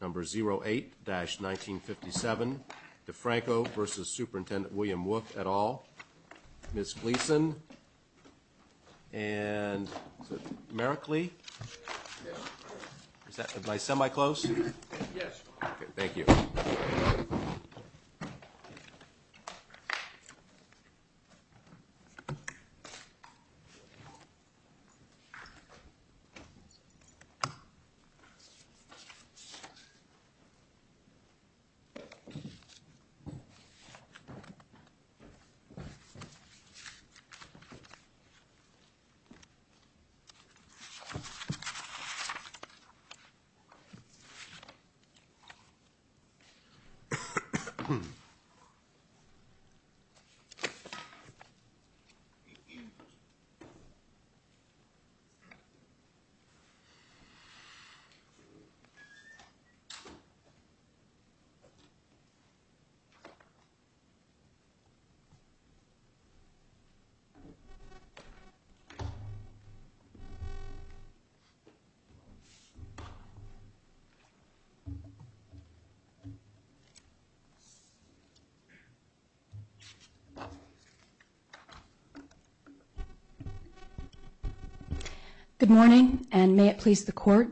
et al., Ms. Gleason, and is it Merrick Lee, is that my semi-close? Yes. Okay, thank you. Thank you. Thank you. Good morning, and may it please the Court.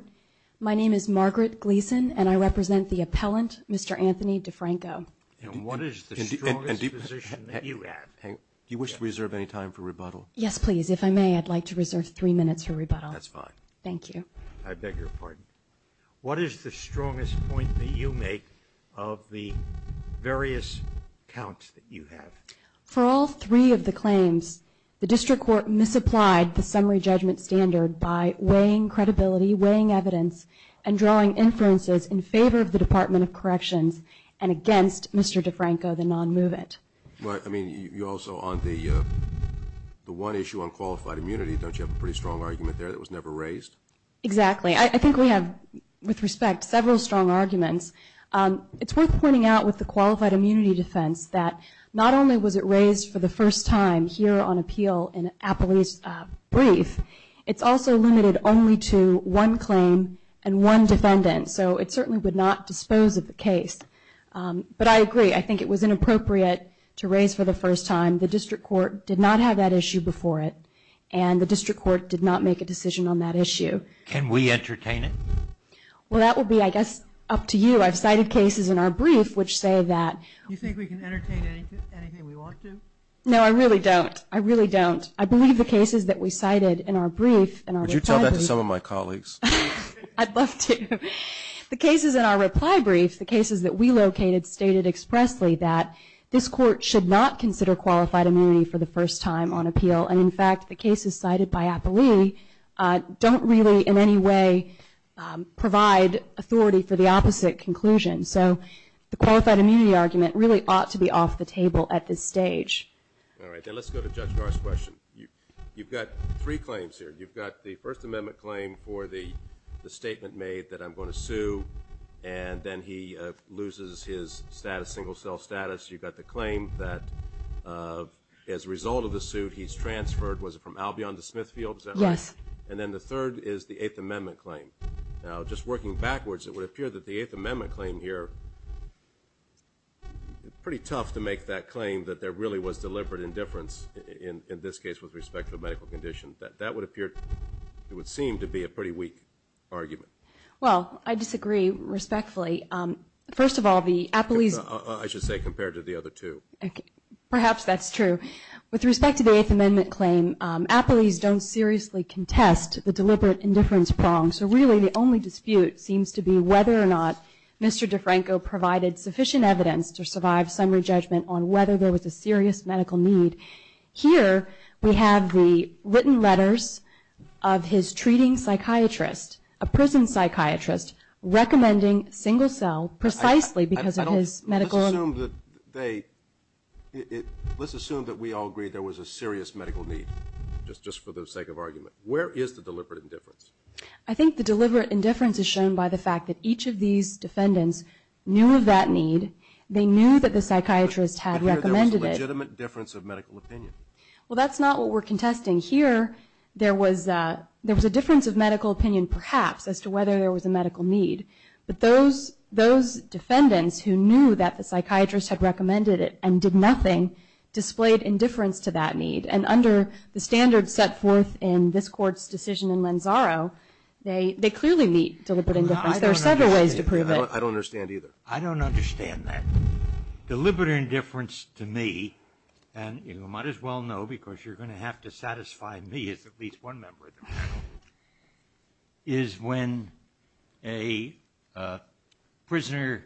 My name is Margaret Gleason, and I represent the appellant, Mr. Anthony DeFranco. And what is the strongest position that you have? Do you wish to reserve any time for rebuttal? Yes, please. If I may, I'd like to reserve three minutes for rebuttal. That's fine. Thank you. I beg your pardon. What is the strongest point that you make of the various counts that you have? For all three of the claims, the district court misapplied the summary judgment standard by weighing credibility, weighing evidence, and drawing inferences in favor of the Department of Corrections and against Mr. DeFranco, the non-movement. I mean, you also, on the one issue on qualified immunity, don't you have a pretty strong argument there that it was never raised? Exactly. I think we have, with respect, several strong arguments. It's worth pointing out with the qualified immunity defense that not only was it raised for the first time here on appeal in Appley's brief, it's also limited only to one claim and one defendant. So it certainly would not dispose of the case. But I agree. I think it was inappropriate to raise for the first time. The district court did not have that issue before it, and the district court did not make a decision on that issue. Can we entertain it? Well, that would be, I guess, up to you. I've cited cases in our brief which say that. Do you think we can entertain anything we want to? No, I really don't. I really don't. I believe the cases that we cited in our brief and our reply brief. Would you tell that to some of my colleagues? I'd love to. The cases in our reply brief, the cases that we located, stated expressly that this court should not consider qualified immunity for the first time on appeal. And, in fact, the cases cited by Appley don't really, in any way, provide authority for the opposite conclusion. So the qualified immunity argument really ought to be off the table at this stage. All right. Now let's go to Judge Garst's question. You've got three claims here. You've got the First Amendment claim for the statement made that I'm going to sue, and then he loses his status, single cell status. You've got the claim that as a result of the suit he's transferred, was it from Albion to Smithfield? Yes. And then the third is the Eighth Amendment claim. Now, just working backwards, it would appear that the Eighth Amendment claim here, it's pretty tough to make that claim that there really was deliberate indifference, in this case with respect to the medical condition. That would appear, it would seem to be a pretty weak argument. Well, I disagree respectfully. First of all, the Appley's. I should say compared to the other two. Perhaps that's true. With respect to the Eighth Amendment claim, Appley's don't seriously contest the deliberate indifference prong. So really the only dispute seems to be whether or not Mr. DeFranco provided sufficient evidence to survive summary judgment on whether there was a serious medical need. Here we have the written letters of his treating psychiatrist, a prison psychiatrist, recommending single cell precisely because of his medical. Let's assume that we all agree there was a serious medical need, just for the sake of argument. Where is the deliberate indifference? I think the deliberate indifference is shown by the fact that each of these defendants knew of that need. They knew that the psychiatrist had recommended it. But here there was a legitimate difference of medical opinion. Well, that's not what we're contesting. Here there was a difference of medical opinion, perhaps, as to whether there was a medical need. But those defendants who knew that the psychiatrist had recommended it and did nothing, displayed indifference to that need. And under the standards set forth in this Court's decision in Lanzaro, they clearly meet deliberate indifference. There are several ways to prove it. I don't understand either. I don't understand that. Deliberate indifference to me, and you might as well know because you're going to have to satisfy me as at least one member of the panel, is when a prisoner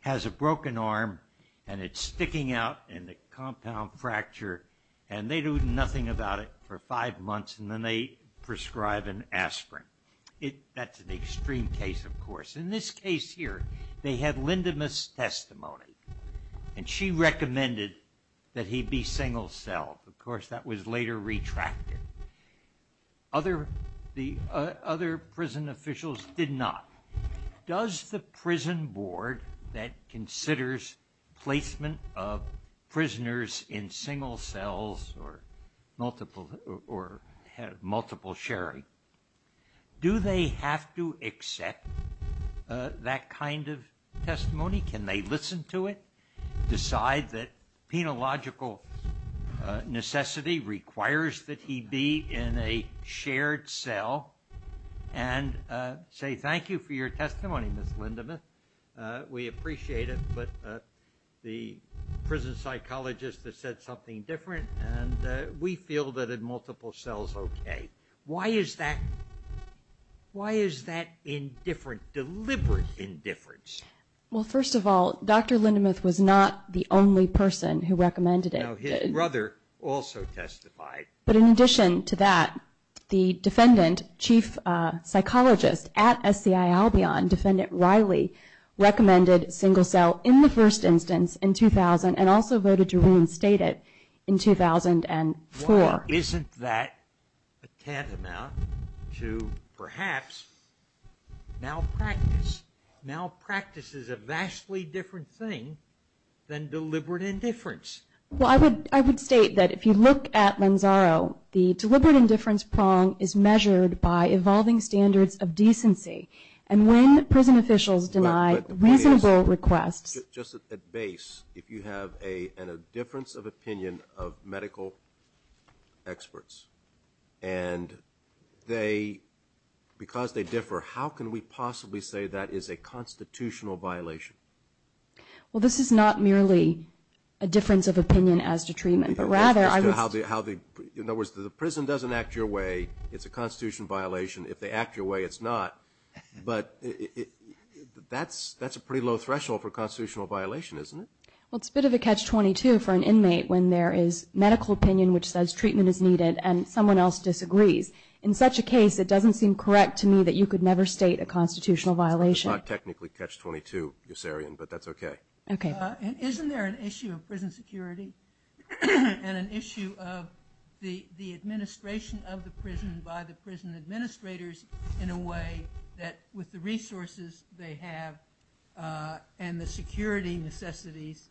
has a broken arm and it's sticking out in the compound fracture, and they do nothing about it for five months, and then they prescribe an aspirin. That's an extreme case, of course. In this case here, they had Lindemuth's testimony, and she recommended that he be single-celled. Of course, that was later retracted. Other prison officials did not. Does the prison board that considers placement of prisoners in single cells or multiple sharing, do they have to accept that kind of testimony? Can they listen to it, decide that penological necessity requires that he be in a shared cell, and say, thank you for your testimony, Ms. Lindemuth. We appreciate it, but the prison psychologist has said something different, and we feel that in multiple cells, okay. Why is that indifferent, deliberate indifference? Well, first of all, Dr. Lindemuth was not the only person who recommended it. His brother also testified. But in addition to that, the defendant, chief psychologist at SCI Albion, Defendant Riley, recommended single-cell in the first instance in 2000 and also voted to reinstate it in 2004. Why isn't that tantamount to perhaps malpractice? Malpractice is a vastly different thing than deliberate indifference. Well, I would state that if you look at Lanzaro, the deliberate indifference prong is measured by evolving standards of decency. And when prison officials deny reasonable requests. Just at base, if you have a difference of opinion of medical experts, and because they differ, how can we possibly say that is a constitutional violation? Well, this is not merely a difference of opinion as to treatment. In other words, the prison doesn't act your way, it's a constitutional violation. If they act your way, it's not. But that's a pretty low threshold for constitutional violation, isn't it? Well, it's a bit of a catch-22 for an inmate when there is medical opinion which says treatment is needed and someone else disagrees. In such a case, it doesn't seem correct to me that you could never state a constitutional violation. It's not technically catch-22, Yossarian, but that's okay. Okay. Isn't there an issue of prison security and an issue of the administration of the prison by the prison administrators in a way that, with the resources they have and the security necessities,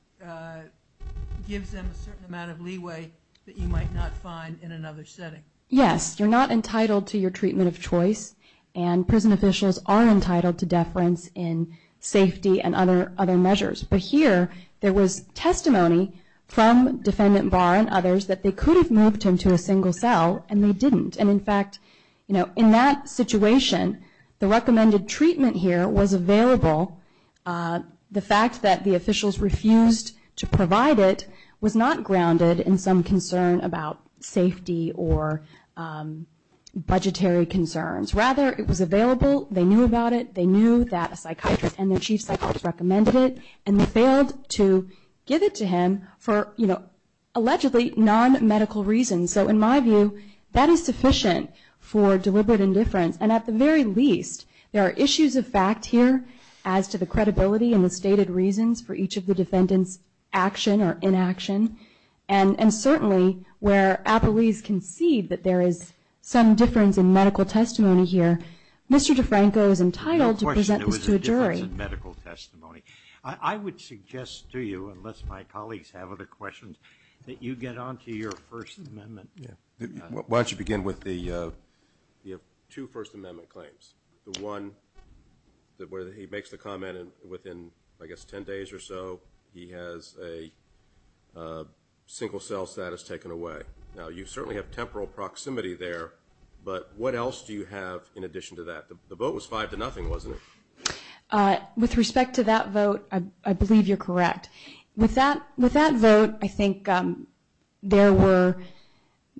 gives them a certain amount of leeway that you might not find in another setting? Yes. You're not entitled to your treatment of choice, and prison officials are entitled to deference in safety and other measures. But here, there was testimony from Defendant Barr and others that they could have moved him to a single cell, and they didn't. And, in fact, in that situation, the recommended treatment here was available. The fact that the officials refused to provide it was not grounded in some concern about safety or budgetary concerns. Rather, it was available, they knew about it, they knew that a psychiatrist and their chief psychologist recommended it, and they failed to give it to him for allegedly non-medical reasons. So, in my view, that is sufficient for deliberate indifference. And, at the very least, there are issues of fact here as to the credibility and the stated reasons for each of the defendants' action or inaction. And, certainly, where appellees concede that there is some difference in medical testimony here, Mr. DeFranco is entitled to present this to a jury. The question was the difference in medical testimony. I would suggest to you, unless my colleagues have other questions, that you get on to your First Amendment. Why don't you begin with the two First Amendment claims. The one where he makes the comment within, I guess, ten days or so, he has a single cell status taken away. Now, you certainly have temporal proximity there, but what else do you have in addition to that? The vote was five to nothing, wasn't it? With respect to that vote, I believe you're correct. With that vote, I think there were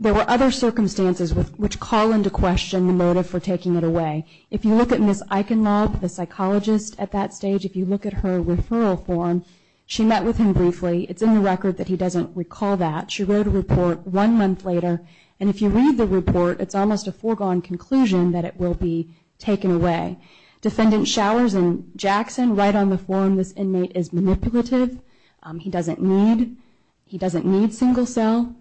other circumstances which call into question the motive for taking it away. If you look at Ms. Eichenlaub, the psychologist at that stage, if you look at her referral form, she met with him briefly. It's in the record that he doesn't recall that. She wrote a report one month later, and if you read the report, it's almost a foregone conclusion that it will be taken away. Defendant Showers and Jackson write on the form, this inmate is manipulative. He doesn't need single cell.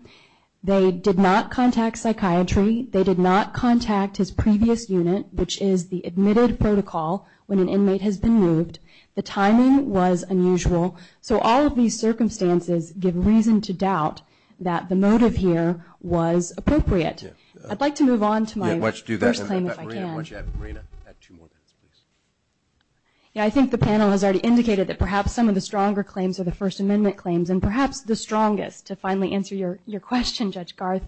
They did not contact psychiatry. They did not contact his previous unit, which is the admitted protocol, when an inmate has been moved. The timing was unusual. So all of these circumstances give reason to doubt that the motive here was appropriate. I'd like to move on to my first claim, if I can. Marina, add two more minutes, please. I think the panel has already indicated that perhaps some of the stronger claims are the First Amendment claims, and perhaps the strongest, to finally answer your question, Judge Garth,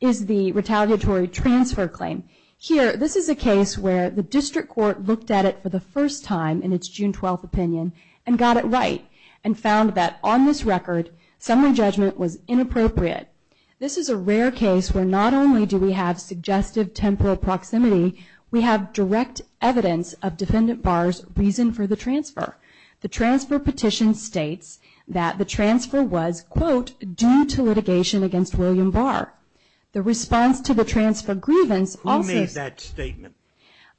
is the retaliatory transfer claim. Here, this is a case where the district court looked at it for the first time in its June 12th opinion, and got it right, and found that on this record, summary judgment was inappropriate. This is a rare case where not only do we have suggestive temporal proximity, we have direct evidence of Defendant Barr's reason for the transfer. The transfer petition states that the transfer was, quote, due to litigation against William Barr. The response to the transfer grievance also- Who made that statement?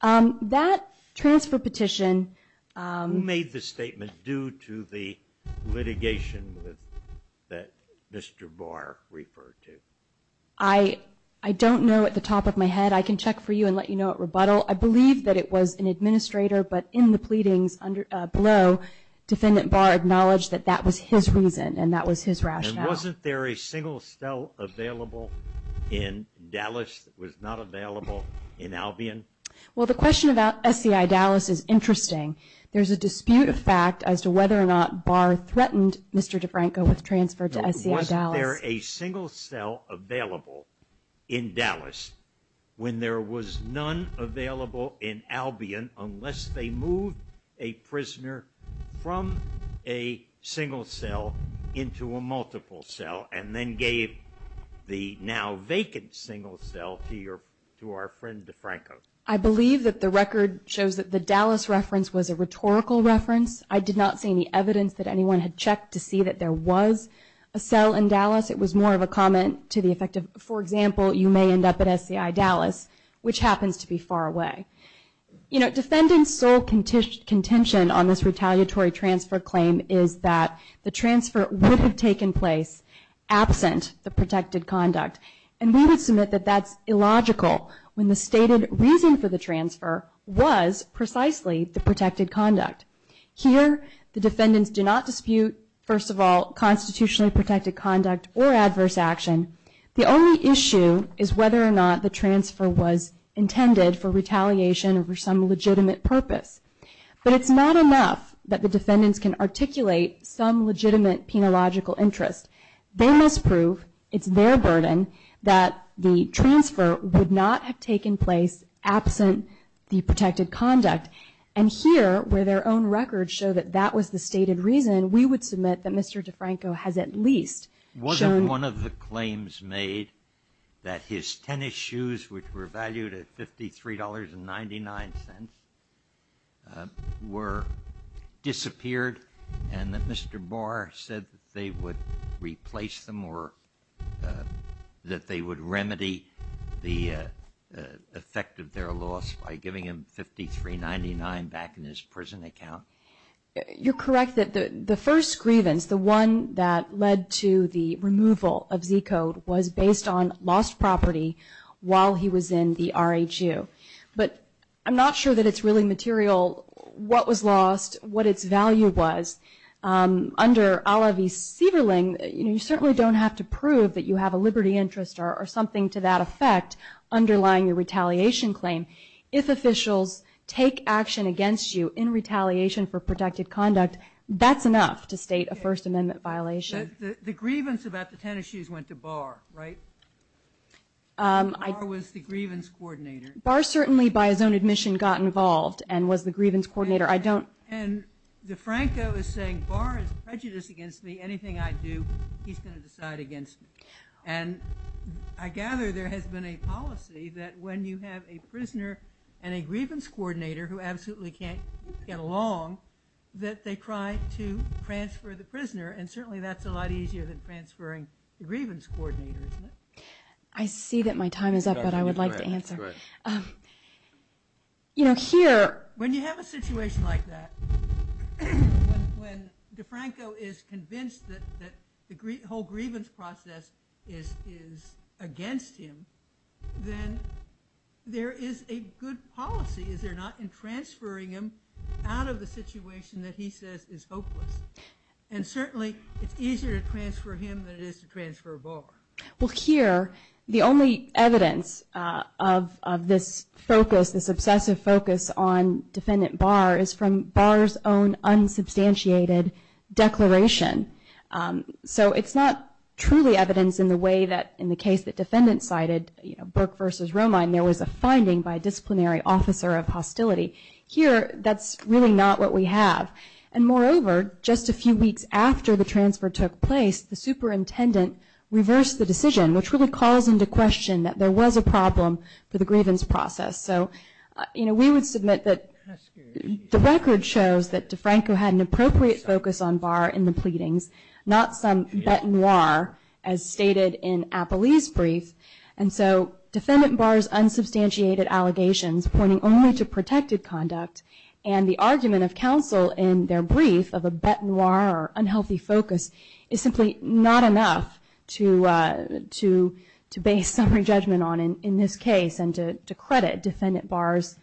That transfer petition- Who made the statement due to the litigation that Mr. Barr referred to? I don't know at the top of my head. I can check for you and let you know at rebuttal. I believe that it was an administrator, but in the pleadings below, Defendant Barr acknowledged that that was his reason, and that was his rationale. And wasn't there a single cell available in Dallas that was not available in Albion? Well, the question about SCI Dallas is interesting. There's a dispute of fact as to whether or not Barr threatened Mr. DeFranco with transfer to SCI Dallas. Wasn't there a single cell available in Dallas when there was none available in Albion unless they moved a prisoner from a single cell into a multiple cell and then gave the now vacant single cell to our friend DeFranco? I believe that the record shows that the Dallas reference was a rhetorical reference. I did not see any evidence that anyone had checked to see that there was a cell in Dallas. It was more of a comment to the effect of, for example, you may end up at SCI Dallas, which happens to be far away. Defendant's sole contention on this retaliatory transfer claim is that the transfer would have taken place absent the protected conduct. And we would submit that that's illogical when the stated reason for the transfer was precisely the protected conduct. Here, the defendants do not dispute, first of all, constitutionally protected conduct or adverse action. The only issue is whether or not the transfer was intended for retaliation or for some legitimate purpose. But it's not enough that the defendants can articulate some legitimate penological interest. They must prove it's their burden that the transfer would not have taken place absent the protected conduct. And here, where their own records show that that was the stated reason, we would submit that Mr. DeFranco has at least shown one of the claims made that his tennis shoes, which were valued at $53.99, were disappeared and that Mr. Barr said that they would replace them or that they would remedy the effect of their loss by giving him $53.99 back in his prison account. You're correct that the first grievance, the one that led to the removal of Zcode, was based on lost property while he was in the RHU. But I'm not sure that it's really material what was lost, what its value was. Under a la v. Sieverling, you certainly don't have to prove that you have a liberty interest or something to that effect underlying your retaliation claim. If officials take action against you in retaliation for protected conduct, that's enough to state a First Amendment violation. The grievance about the tennis shoes went to Barr, right? Barr was the grievance coordinator. Barr certainly, by his own admission, got involved and was the grievance coordinator. DeFranco is saying, Barr is prejudiced against me. Anything I do, he's going to decide against me. I gather there has been a policy that when you have a prisoner and a grievance coordinator who absolutely can't get along, that they try to transfer the prisoner, and certainly that's a lot easier than transferring the grievance coordinator, isn't it? I see that my time is up, but I would like to answer. When you have a situation like that, when DeFranco is convinced that the whole grievance process is against him, then there is a good policy, is there not, in transferring him out of the situation that he says is hopeless. Certainly, it's easier to transfer him than it is to transfer Barr. Well, here, the only evidence of this focus, this obsessive focus on Defendant Barr is from Barr's own unsubstantiated declaration. So it's not truly evidence in the way that in the case that defendants cited, Burke versus Romine, there was a finding by a disciplinary officer of hostility. Here, that's really not what we have. And moreover, just a few weeks after the transfer took place, the superintendent reversed the decision, which really calls into question that there was a problem for the grievance process. So, you know, we would submit that the record shows that DeFranco had an appropriate focus on Barr in the pleadings, not some bete noire as stated in Apolli's brief. And so Defendant Barr's unsubstantiated allegations pointing only to protected conduct and the argument of counsel in their brief of a bete noire or unhealthy focus is simply not enough to base summary judgment on in this case and to credit Defendant Barr's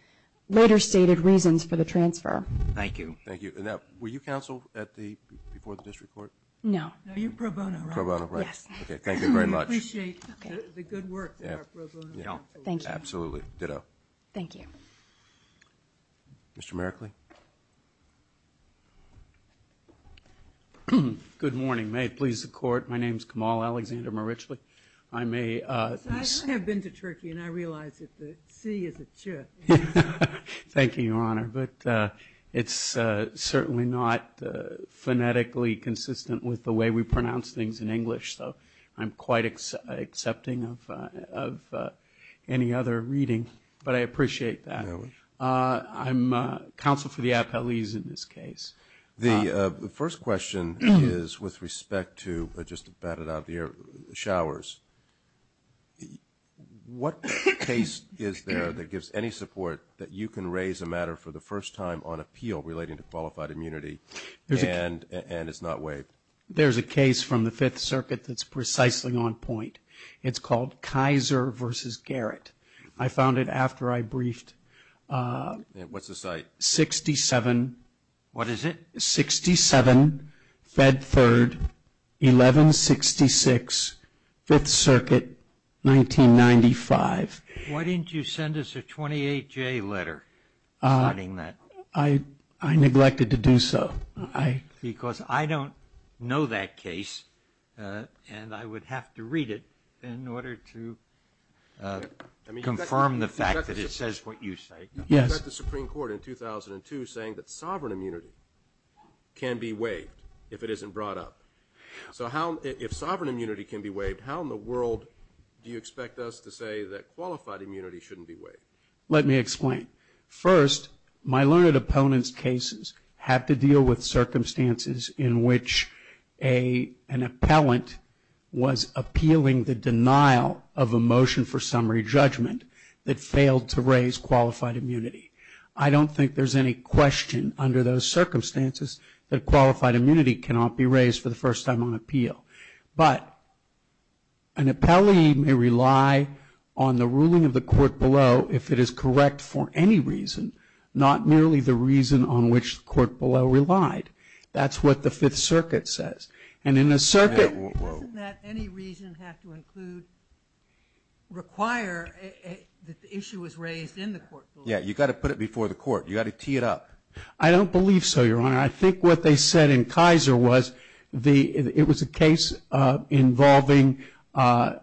later stated reasons for the transfer. Thank you. Thank you. Now, were you counsel before the district court? No. No, you're pro bono, right? Pro bono, right. Yes. Okay. Thank you very much. I appreciate the good work that our pro bono counsel did. Thank you. Absolutely. Ditto. Thank you. Mr. Merkley? Good morning. May it please the Court. My name is Kamal Alexander Merkley. I have been to Turkey, and I realize that the C is a chip. Thank you, Your Honor. But it's certainly not phonetically consistent with the way we pronounce things in English, so I'm quite accepting of any other reading. But I appreciate that. I'm counsel for the appellees in this case. The first question is with respect to, just to bat it out of the air, showers. What case is there that gives any support that you can raise a matter for the first time on appeal relating to qualified immunity and is not waived? There's a case from the Fifth Circuit that's precisely on point. It's called Kaiser v. Garrett. I found it after I briefed. What's the site? 67. What is it? 67, Fed Third, 1166, Fifth Circuit, 1995. Why didn't you send us a 28-J letter regarding that? I neglected to do so. Because I don't know that case, and I would have to read it in order to confirm the fact that it says what you say. You sent the Supreme Court in 2002 saying that sovereign immunity can be waived if it isn't brought up. So if sovereign immunity can be waived, how in the world do you expect us to say that qualified immunity shouldn't be waived? Let me explain. First, my learned opponent's cases had to deal with circumstances in which an appellant was appealing the denial of a motion for summary judgment that failed to raise qualified immunity. I don't think there's any question under those circumstances that qualified immunity cannot be raised for the first time on appeal. But an appellee may rely on the ruling of the court below if it is correct for any reason, not merely the reason on which the court below relied. That's what the Fifth Circuit says. And in the circuit... Doesn't that any reason have to include, require that the issue was raised in the court below? Yeah, you've got to put it before the court. You've got to tee it up. I don't believe so, Your Honor. I think what they said in Kaiser was it was a case involving a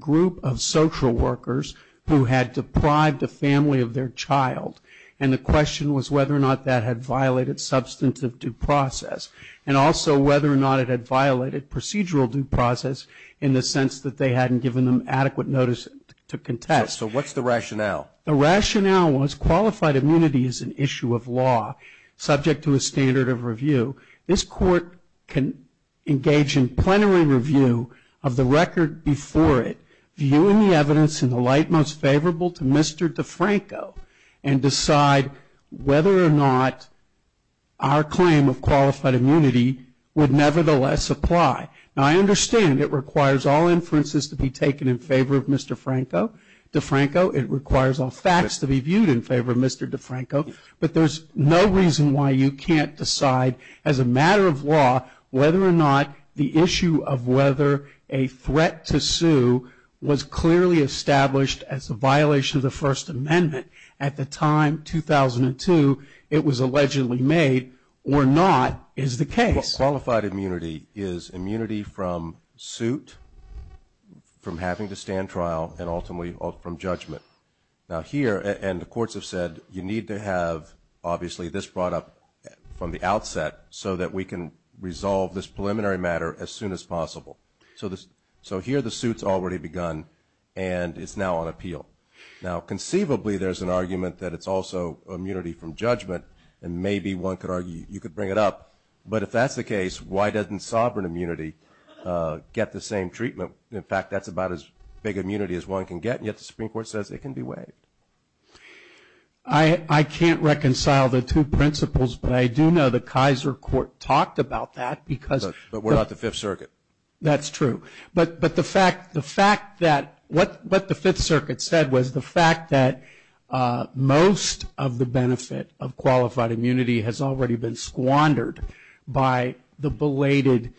group of social workers who had deprived a family of their child, and the question was whether or not that had violated substantive due process, and also whether or not it had violated procedural due process in the sense that they hadn't given them adequate notice to contest. So what's the rationale? The rationale was qualified immunity is an issue of law subject to a standard of review. This court can engage in plenary review of the record before it, viewing the evidence in the light most favorable to Mr. DeFranco, and decide whether or not our claim of qualified immunity would nevertheless apply. Now, I understand it requires all inferences to be taken in favor of Mr. DeFranco. It requires all facts to be viewed in favor of Mr. DeFranco. But there's no reason why you can't decide, as a matter of law, whether or not the issue of whether a threat to sue was clearly established as a violation of the First Amendment at the time, 2002, it was allegedly made, or not, is the case. Qualified immunity is immunity from suit, from having to stand trial, and ultimately from judgment. Now, here, and the courts have said you need to have, obviously, this brought up from the outset so that we can resolve this preliminary matter as soon as possible. So here the suit's already begun, and it's now on appeal. Now, conceivably, there's an argument that it's also immunity from judgment, and maybe one could argue you could bring it up. But if that's the case, why doesn't sovereign immunity get the same treatment? You know, in fact, that's about as big immunity as one can get, and yet the Supreme Court says it can be waived. I can't reconcile the two principles, but I do know the Kaiser court talked about that. But we're not the Fifth Circuit. That's true. But the fact that what the Fifth Circuit said was the fact that most of the benefit of qualified immunity has already been squandered by the belated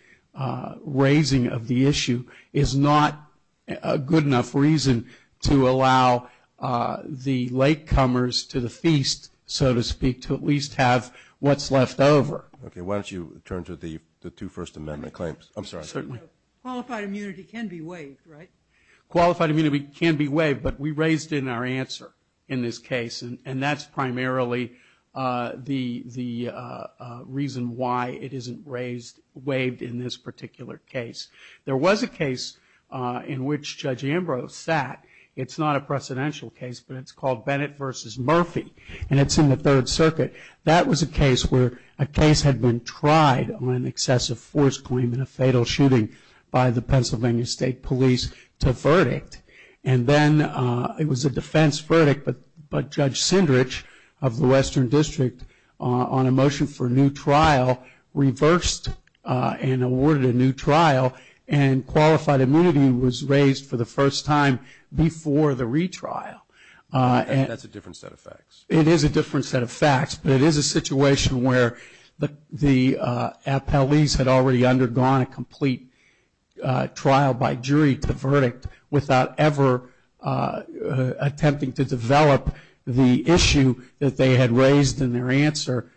raising of the issue is not a good enough reason to allow the latecomers to the feast, so to speak, to at least have what's left over. Okay. Why don't you turn to the two First Amendment claims? I'm sorry. Certainly. Qualified immunity can be waived, right? Qualified immunity can be waived, but we raised it in our answer in this case, and that's primarily the reason why it isn't raised, waived in this particular case. There was a case in which Judge Ambrose sat. It's not a precedential case, but it's called Bennett v. Murphy, and it's in the Third Circuit. That was a case where a case had been tried on an excessive force claim in a fatal shooting by the Pennsylvania State Police to verdict, and then it was a defense verdict, but Judge Sindrich of the Western District, on a motion for a new trial, reversed and awarded a new trial, and qualified immunity was raised for the first time before the retrial. That's a different set of facts. It is a different set of facts, but it is a situation where the appellees had already undergone a complete trial by jury to verdict without ever attempting to develop the issue that they had raised in their answer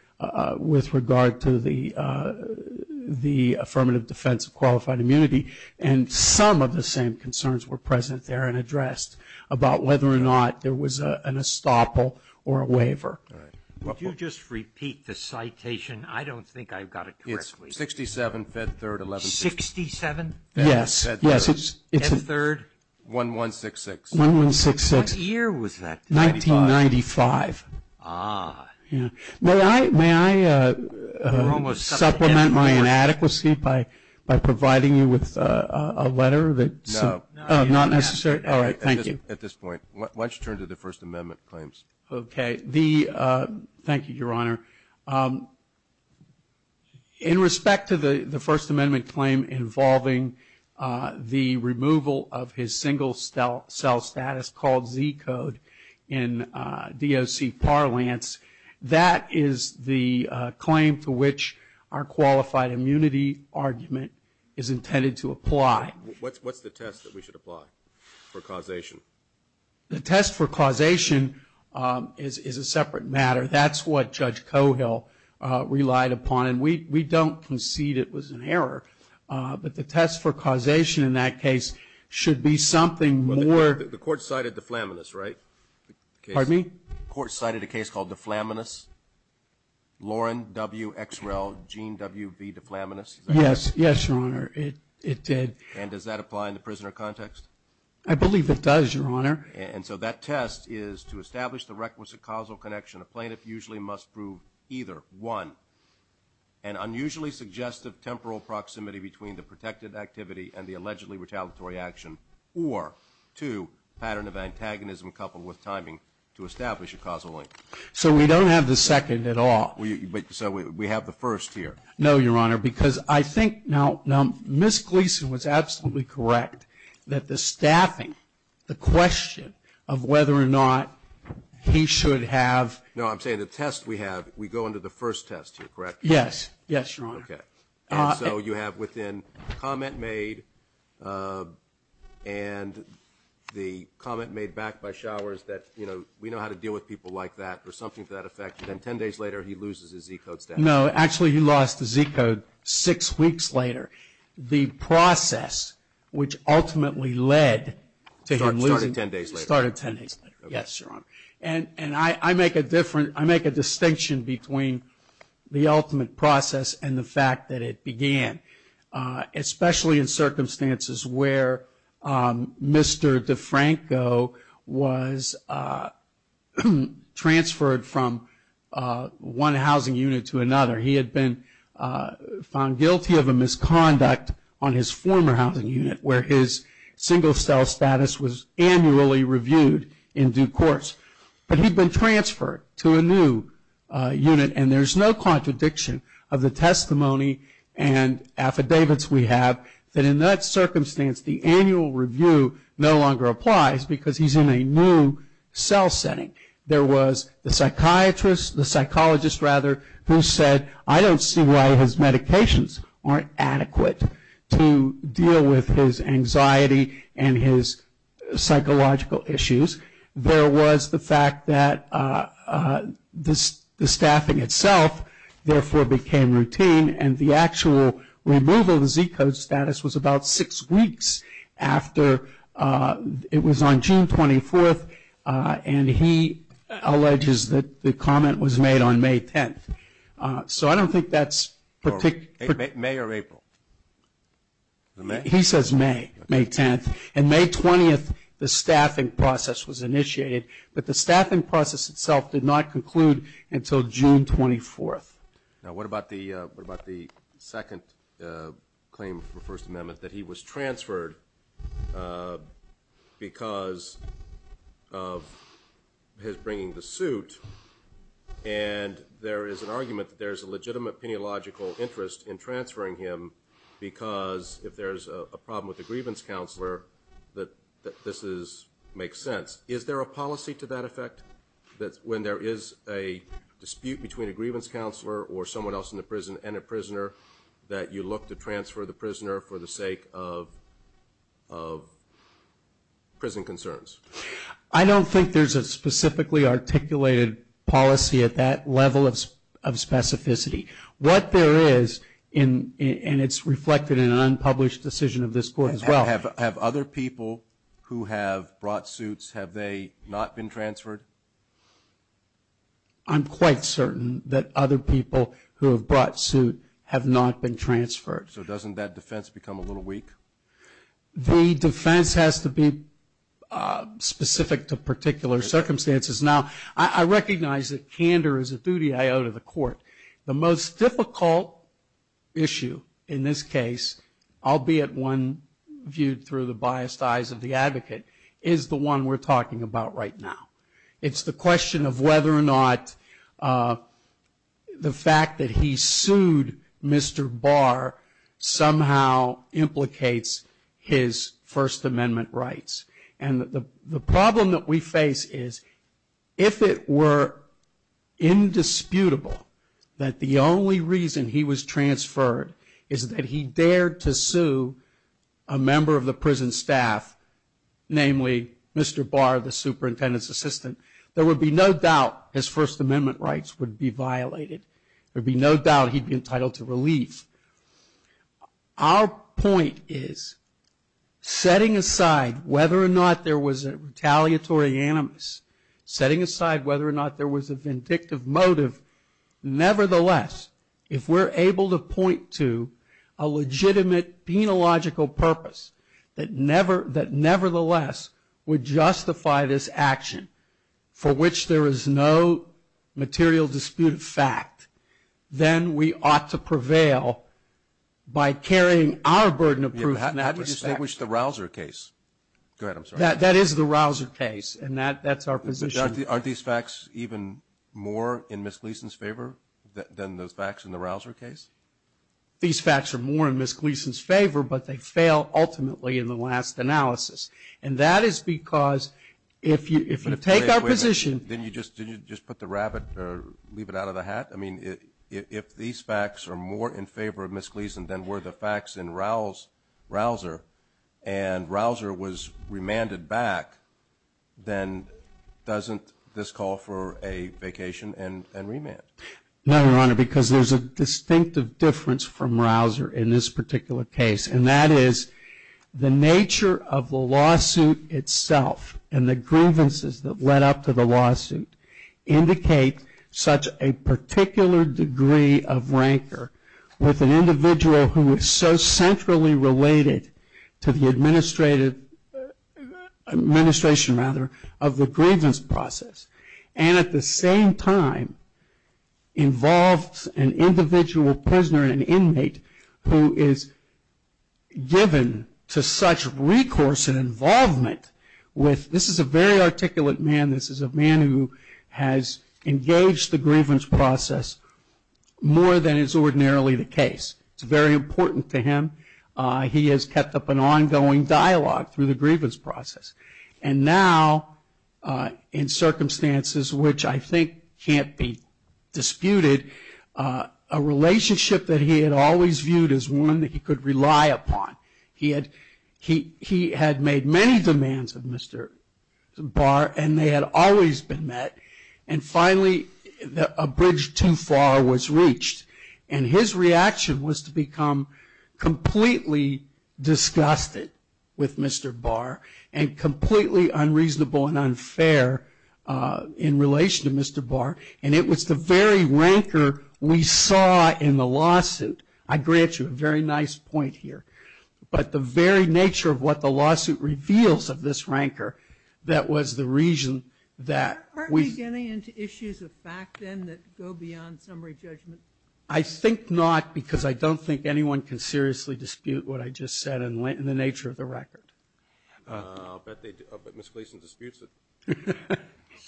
with regard to the affirmative defense of qualified immunity, and some of the same concerns were present there and addressed about whether or not there was an estoppel or a waiver. Would you just repeat the citation? I don't think I've got it correctly. It's 67, Fed Third, 1160. 67? Yes. Fed Third? 1166. 1166. What year was that? 1995. 1995. Ah. May I supplement my inadequacy by providing you with a letter that's not necessary? No. All right, thank you. At this point, why don't you turn to the First Amendment claims? Okay. Thank you, Your Honor. In respect to the First Amendment claim involving the removal of his single cell status called Z code in DOC parlance, that is the claim to which our qualified immunity argument is intended to apply. What's the test that we should apply for causation? The test for causation is a separate matter. That's what Judge Cohill relied upon. And we don't concede it was an error. But the test for causation in that case should be something more. The court cited deflaminus, right? Pardon me? The court cited a case called deflaminus, Lauren W. X. Rel. Gene W. B. Deflaminus. Yes. Yes, Your Honor. It did. And does that apply in the prisoner context? I believe it does, Your Honor. And so that test is to establish the requisite causal connection. A plaintiff usually must prove either 1, an unusually suggestive temporal proximity between the protected activity and the allegedly retaliatory action, or 2, pattern of antagonism coupled with timing to establish a causal link. So we don't have the second at all. So we have the first here. No, Your Honor. Because I think now Ms. Gleason was absolutely correct that the staffing, the question of whether or not he should have. No, I'm saying the test we have, we go into the first test here, correct? Yes. Yes, Your Honor. Okay. And so you have within comment made and the comment made back by showers that, you know, we know how to deal with people like that or something to that effect. And then 10 days later he loses his Z code staffing. No, actually he lost the Z code six weeks later. The process which ultimately led to him losing. Started 10 days later. Started 10 days later. Yes, Your Honor. And I make a different, I make a distinction between the ultimate process and the fact that it began, especially in circumstances where Mr. DeFranco was transferred from one housing unit to another. He had been found guilty of a misconduct on his former housing unit where his single cell status was annually reviewed in due course. But he'd been transferred to a new unit and there's no contradiction of the testimony and affidavits we have that in that circumstance the annual review no longer applies because he's in a new cell setting. There was the psychiatrist, the psychologist rather, who said, I don't see why his medications aren't adequate to deal with his anxiety and his psychological issues. There was the fact that the staffing itself therefore became routine and the actual removal of the Z code status was about six weeks after it was on June 24th and he alleges that the comment was made on May 10th. So I don't think that's particular. May or April? He says May, May 10th. And May 20th the staffing process was initiated, but the staffing process itself did not conclude until June 24th. Now what about the second claim from the First Amendment, that he was transferred because of his bringing the suit and there is an argument that there's a legitimate peniological interest in transferring him because if there's a problem with the grievance counselor that this makes sense. Is there a policy to that effect, that when there is a dispute between a grievance counselor or someone else in the prison and a prisoner, that you look to transfer the prisoner for the sake of prison concerns? I don't think there's a specifically articulated policy at that level of specificity. What there is, and it's reflected in an unpublished decision of this court as well. Have other people who have brought suits, have they not been transferred? I'm quite certain that other people who have brought suit have not been transferred. So doesn't that defense become a little weak? The defense has to be specific to particular circumstances. Now I recognize that candor is a duty I owe to the court. The most difficult issue in this case, albeit one viewed through the biased eyes of the advocate, is the one we're talking about right now. It's the question of whether or not the fact that he sued Mr. Barr somehow implicates his First Amendment rights. And the problem that we face is if it were indisputable that the only reason he was transferred is that he dared to sue a member of the prison staff, namely Mr. Barr, the superintendent's assistant, there would be no doubt his First Amendment rights would be violated. There would be no doubt he'd be entitled to relief. Our point is setting aside whether or not there was a retaliatory animus, setting aside whether or not there was a vindictive motive, nevertheless, if we're able to point to a legitimate penological purpose that nevertheless would justify this action for which there is no material disputed fact, then we ought to prevail by carrying our burden of proof. How do you distinguish the Rausser case? Go ahead, I'm sorry. That is the Rausser case, and that's our position. Aren't these facts even more in Ms. Gleason's favor than those facts in the Rausser case? These facts are more in Ms. Gleason's favor, but they fail ultimately in the last analysis, and that is because if you take our position. Wait a minute. Didn't you just put the rabbit or leave it out of the hat? I mean, if these facts are more in favor of Ms. Gleason than were the facts in Rausser, and Rausser was remanded back, then doesn't this call for a vacation and remand? No, Your Honor, because there's a distinctive difference from Rausser in this particular case, and that is the nature of the lawsuit itself and the grievances that led up to the lawsuit indicate such a particular degree of rancor with an individual who is so centrally related to the administration of the grievance process, and at the same time involves an individual prisoner, an inmate, who is given to such recourse and involvement with this is a very articulate man. This is a man who has engaged the grievance process more than is ordinarily the case. It's very important to him. He has kept up an ongoing dialogue through the grievance process, and now in circumstances which I think can't be disputed, a relationship that he had always viewed as one that he could rely upon. He had made many demands of Mr. Barr, and they had always been met, and finally a bridge too far was reached, and his reaction was to become completely disgusted with Mr. Barr and completely unreasonable and unfair in relation to Mr. Barr, and it was the very rancor we saw in the lawsuit. I grant you a very nice point here, but the very nature of what the lawsuit reveals of this rancor that was the reason that we... I think not because I don't think anyone can seriously dispute what I just said and the nature of the record. I'll bet they do. I'll bet Ms. Gleason disputes it.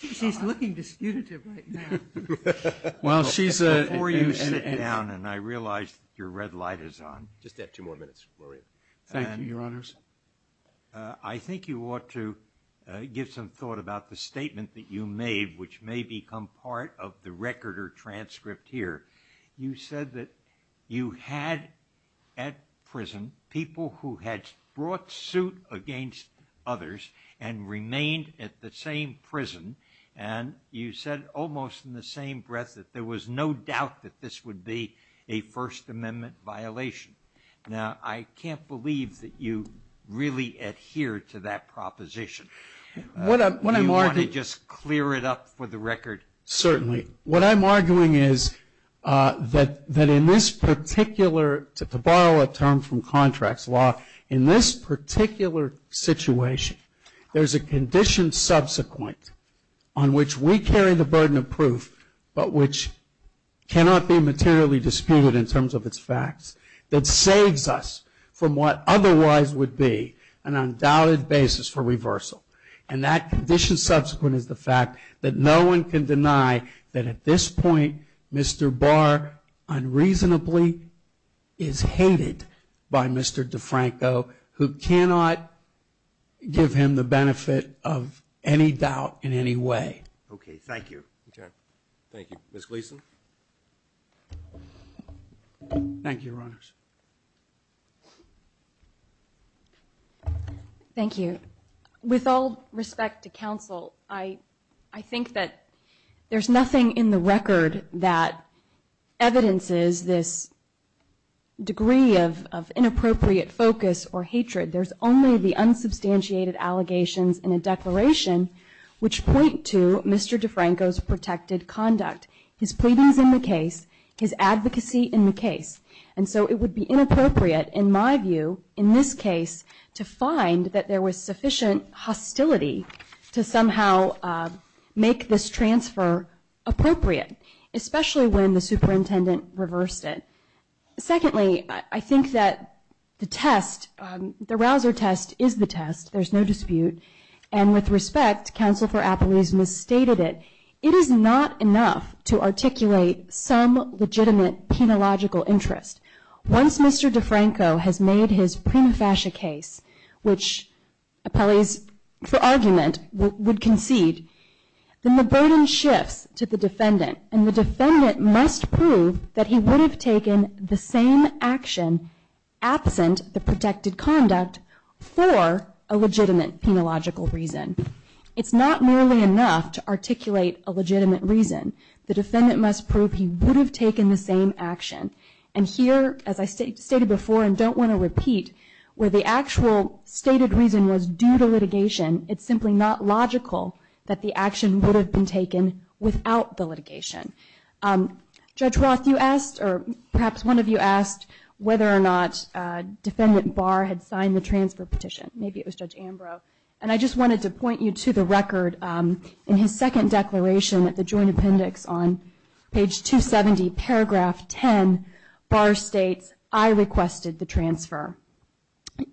She's looking disputative right now. Well, she's a... Before you sit down, and I realize your red light is on. Just add two more minutes, Maria. Thank you, Your Honors. I think you ought to give some thought about the statement that you made, which may become part of the record or transcript here. You said that you had at prison people who had brought suit against others and remained at the same prison, and you said almost in the same breath that there was no doubt that this would be a First Amendment violation. Now, I can't believe that you really adhered to that proposition. Do you want to just clear it up for the record? Certainly. What I'm arguing is that in this particular, to borrow a term from contracts law, in this particular situation, there's a condition subsequent on which we carry the burden of proof but which cannot be materially disputed in terms of its facts that saves us from what otherwise would be an undoubted basis for reversal. And that condition subsequent is the fact that no one can deny that at this point, Mr. Barr unreasonably is hated by Mr. DeFranco, who cannot give him the benefit of any doubt in any way. Okay. Thank you. Okay. Thank you. Ms. Gleason? Thank you, Your Honors. Thank you. With all respect to counsel, I think that there's nothing in the record that evidences this degree of inappropriate focus or hatred. There's only the unsubstantiated allegations in a declaration which point to Mr. DeFranco's protected conduct. His pleadings in the case, his advocacy in the case. And so it would be inappropriate, in my view, in this case, to find that there was sufficient hostility to somehow make this transfer appropriate, especially when the superintendent reversed it. Secondly, I think that the test, the Rausser test, is the test. There's no dispute. And with respect, counsel for Appleby's misstated it. It is not enough to articulate some legitimate penological interest. Once Mr. DeFranco has made his prima facie case, which Appleby's argument would concede, then the burden shifts to the defendant. And the defendant must prove that he would have taken the same action, absent the protected conduct, for a legitimate penological reason. It's not merely enough to articulate a legitimate reason. The defendant must prove he would have taken the same action. And here, as I stated before and don't want to repeat, where the actual stated reason was due to litigation, it's simply not logical that the action would have been taken without the litigation. Judge Roth, you asked, or perhaps one of you asked, whether or not Defendant Barr had signed the transfer petition. Maybe it was Judge Ambrose. And I just wanted to point you to the record. In his second declaration at the Joint Appendix on page 270, paragraph 10, Barr states, I requested the transfer.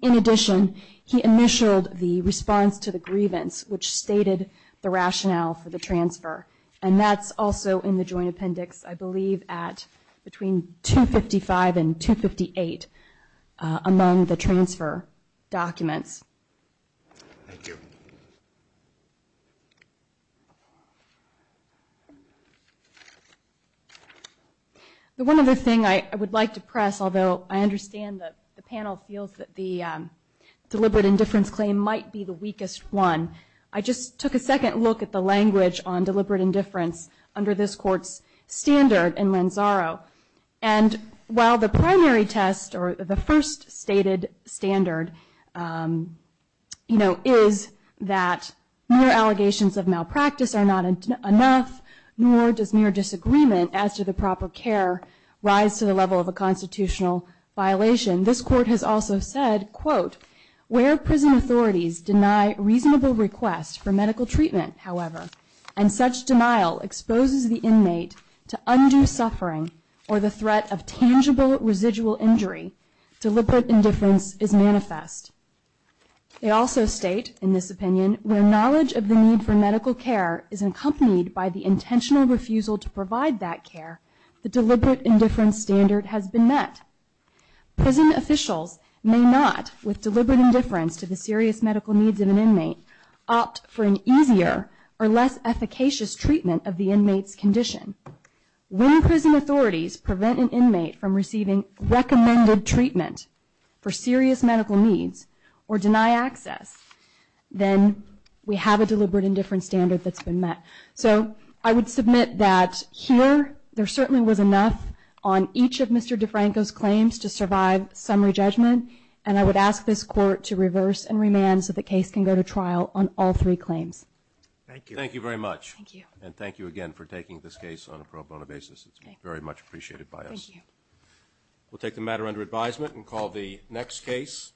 In addition, he initialed the response to the grievance, which stated the rationale for the transfer. And that's also in the Joint Appendix, I believe, at between 255 and 258 among the transfer documents. Thank you. The one other thing I would like to press, although I understand that the panel feels that the deliberate indifference claim might be the weakest one, I just took a second look at the language on deliberate indifference under this Court's standard in Lanzaro. And while the primary test, or the first stated standard, is that mere allegations of malpractice are not enough, nor does mere disagreement as to the proper care rise to the level of a constitutional violation, this Court has also said, quote, where prison authorities deny reasonable requests for medical treatment, however, and such denial exposes the inmate to undue suffering or the threat of tangible residual injury, deliberate indifference is manifest. They also state, in this opinion, where knowledge of the need for medical care is accompanied by the intentional refusal to provide that care, the deliberate indifference standard has been met. Prison officials may not, with deliberate indifference to the serious medical needs of an inmate, opt for an easier or less efficacious treatment of the inmate's condition. When prison authorities prevent an inmate from receiving recommended treatment for serious medical needs or deny access, then we have a deliberate indifference standard that's been met. So I would submit that here there certainly was enough on each of Mr. Franco's claims to survive summary judgment, and I would ask this Court to reverse and remand so the case can go to trial on all three claims. Thank you. Thank you very much. Thank you. And thank you again for taking this case on a pro bono basis. It's very much appreciated by us. Thank you. We'll take the matter under advisement and call the next case.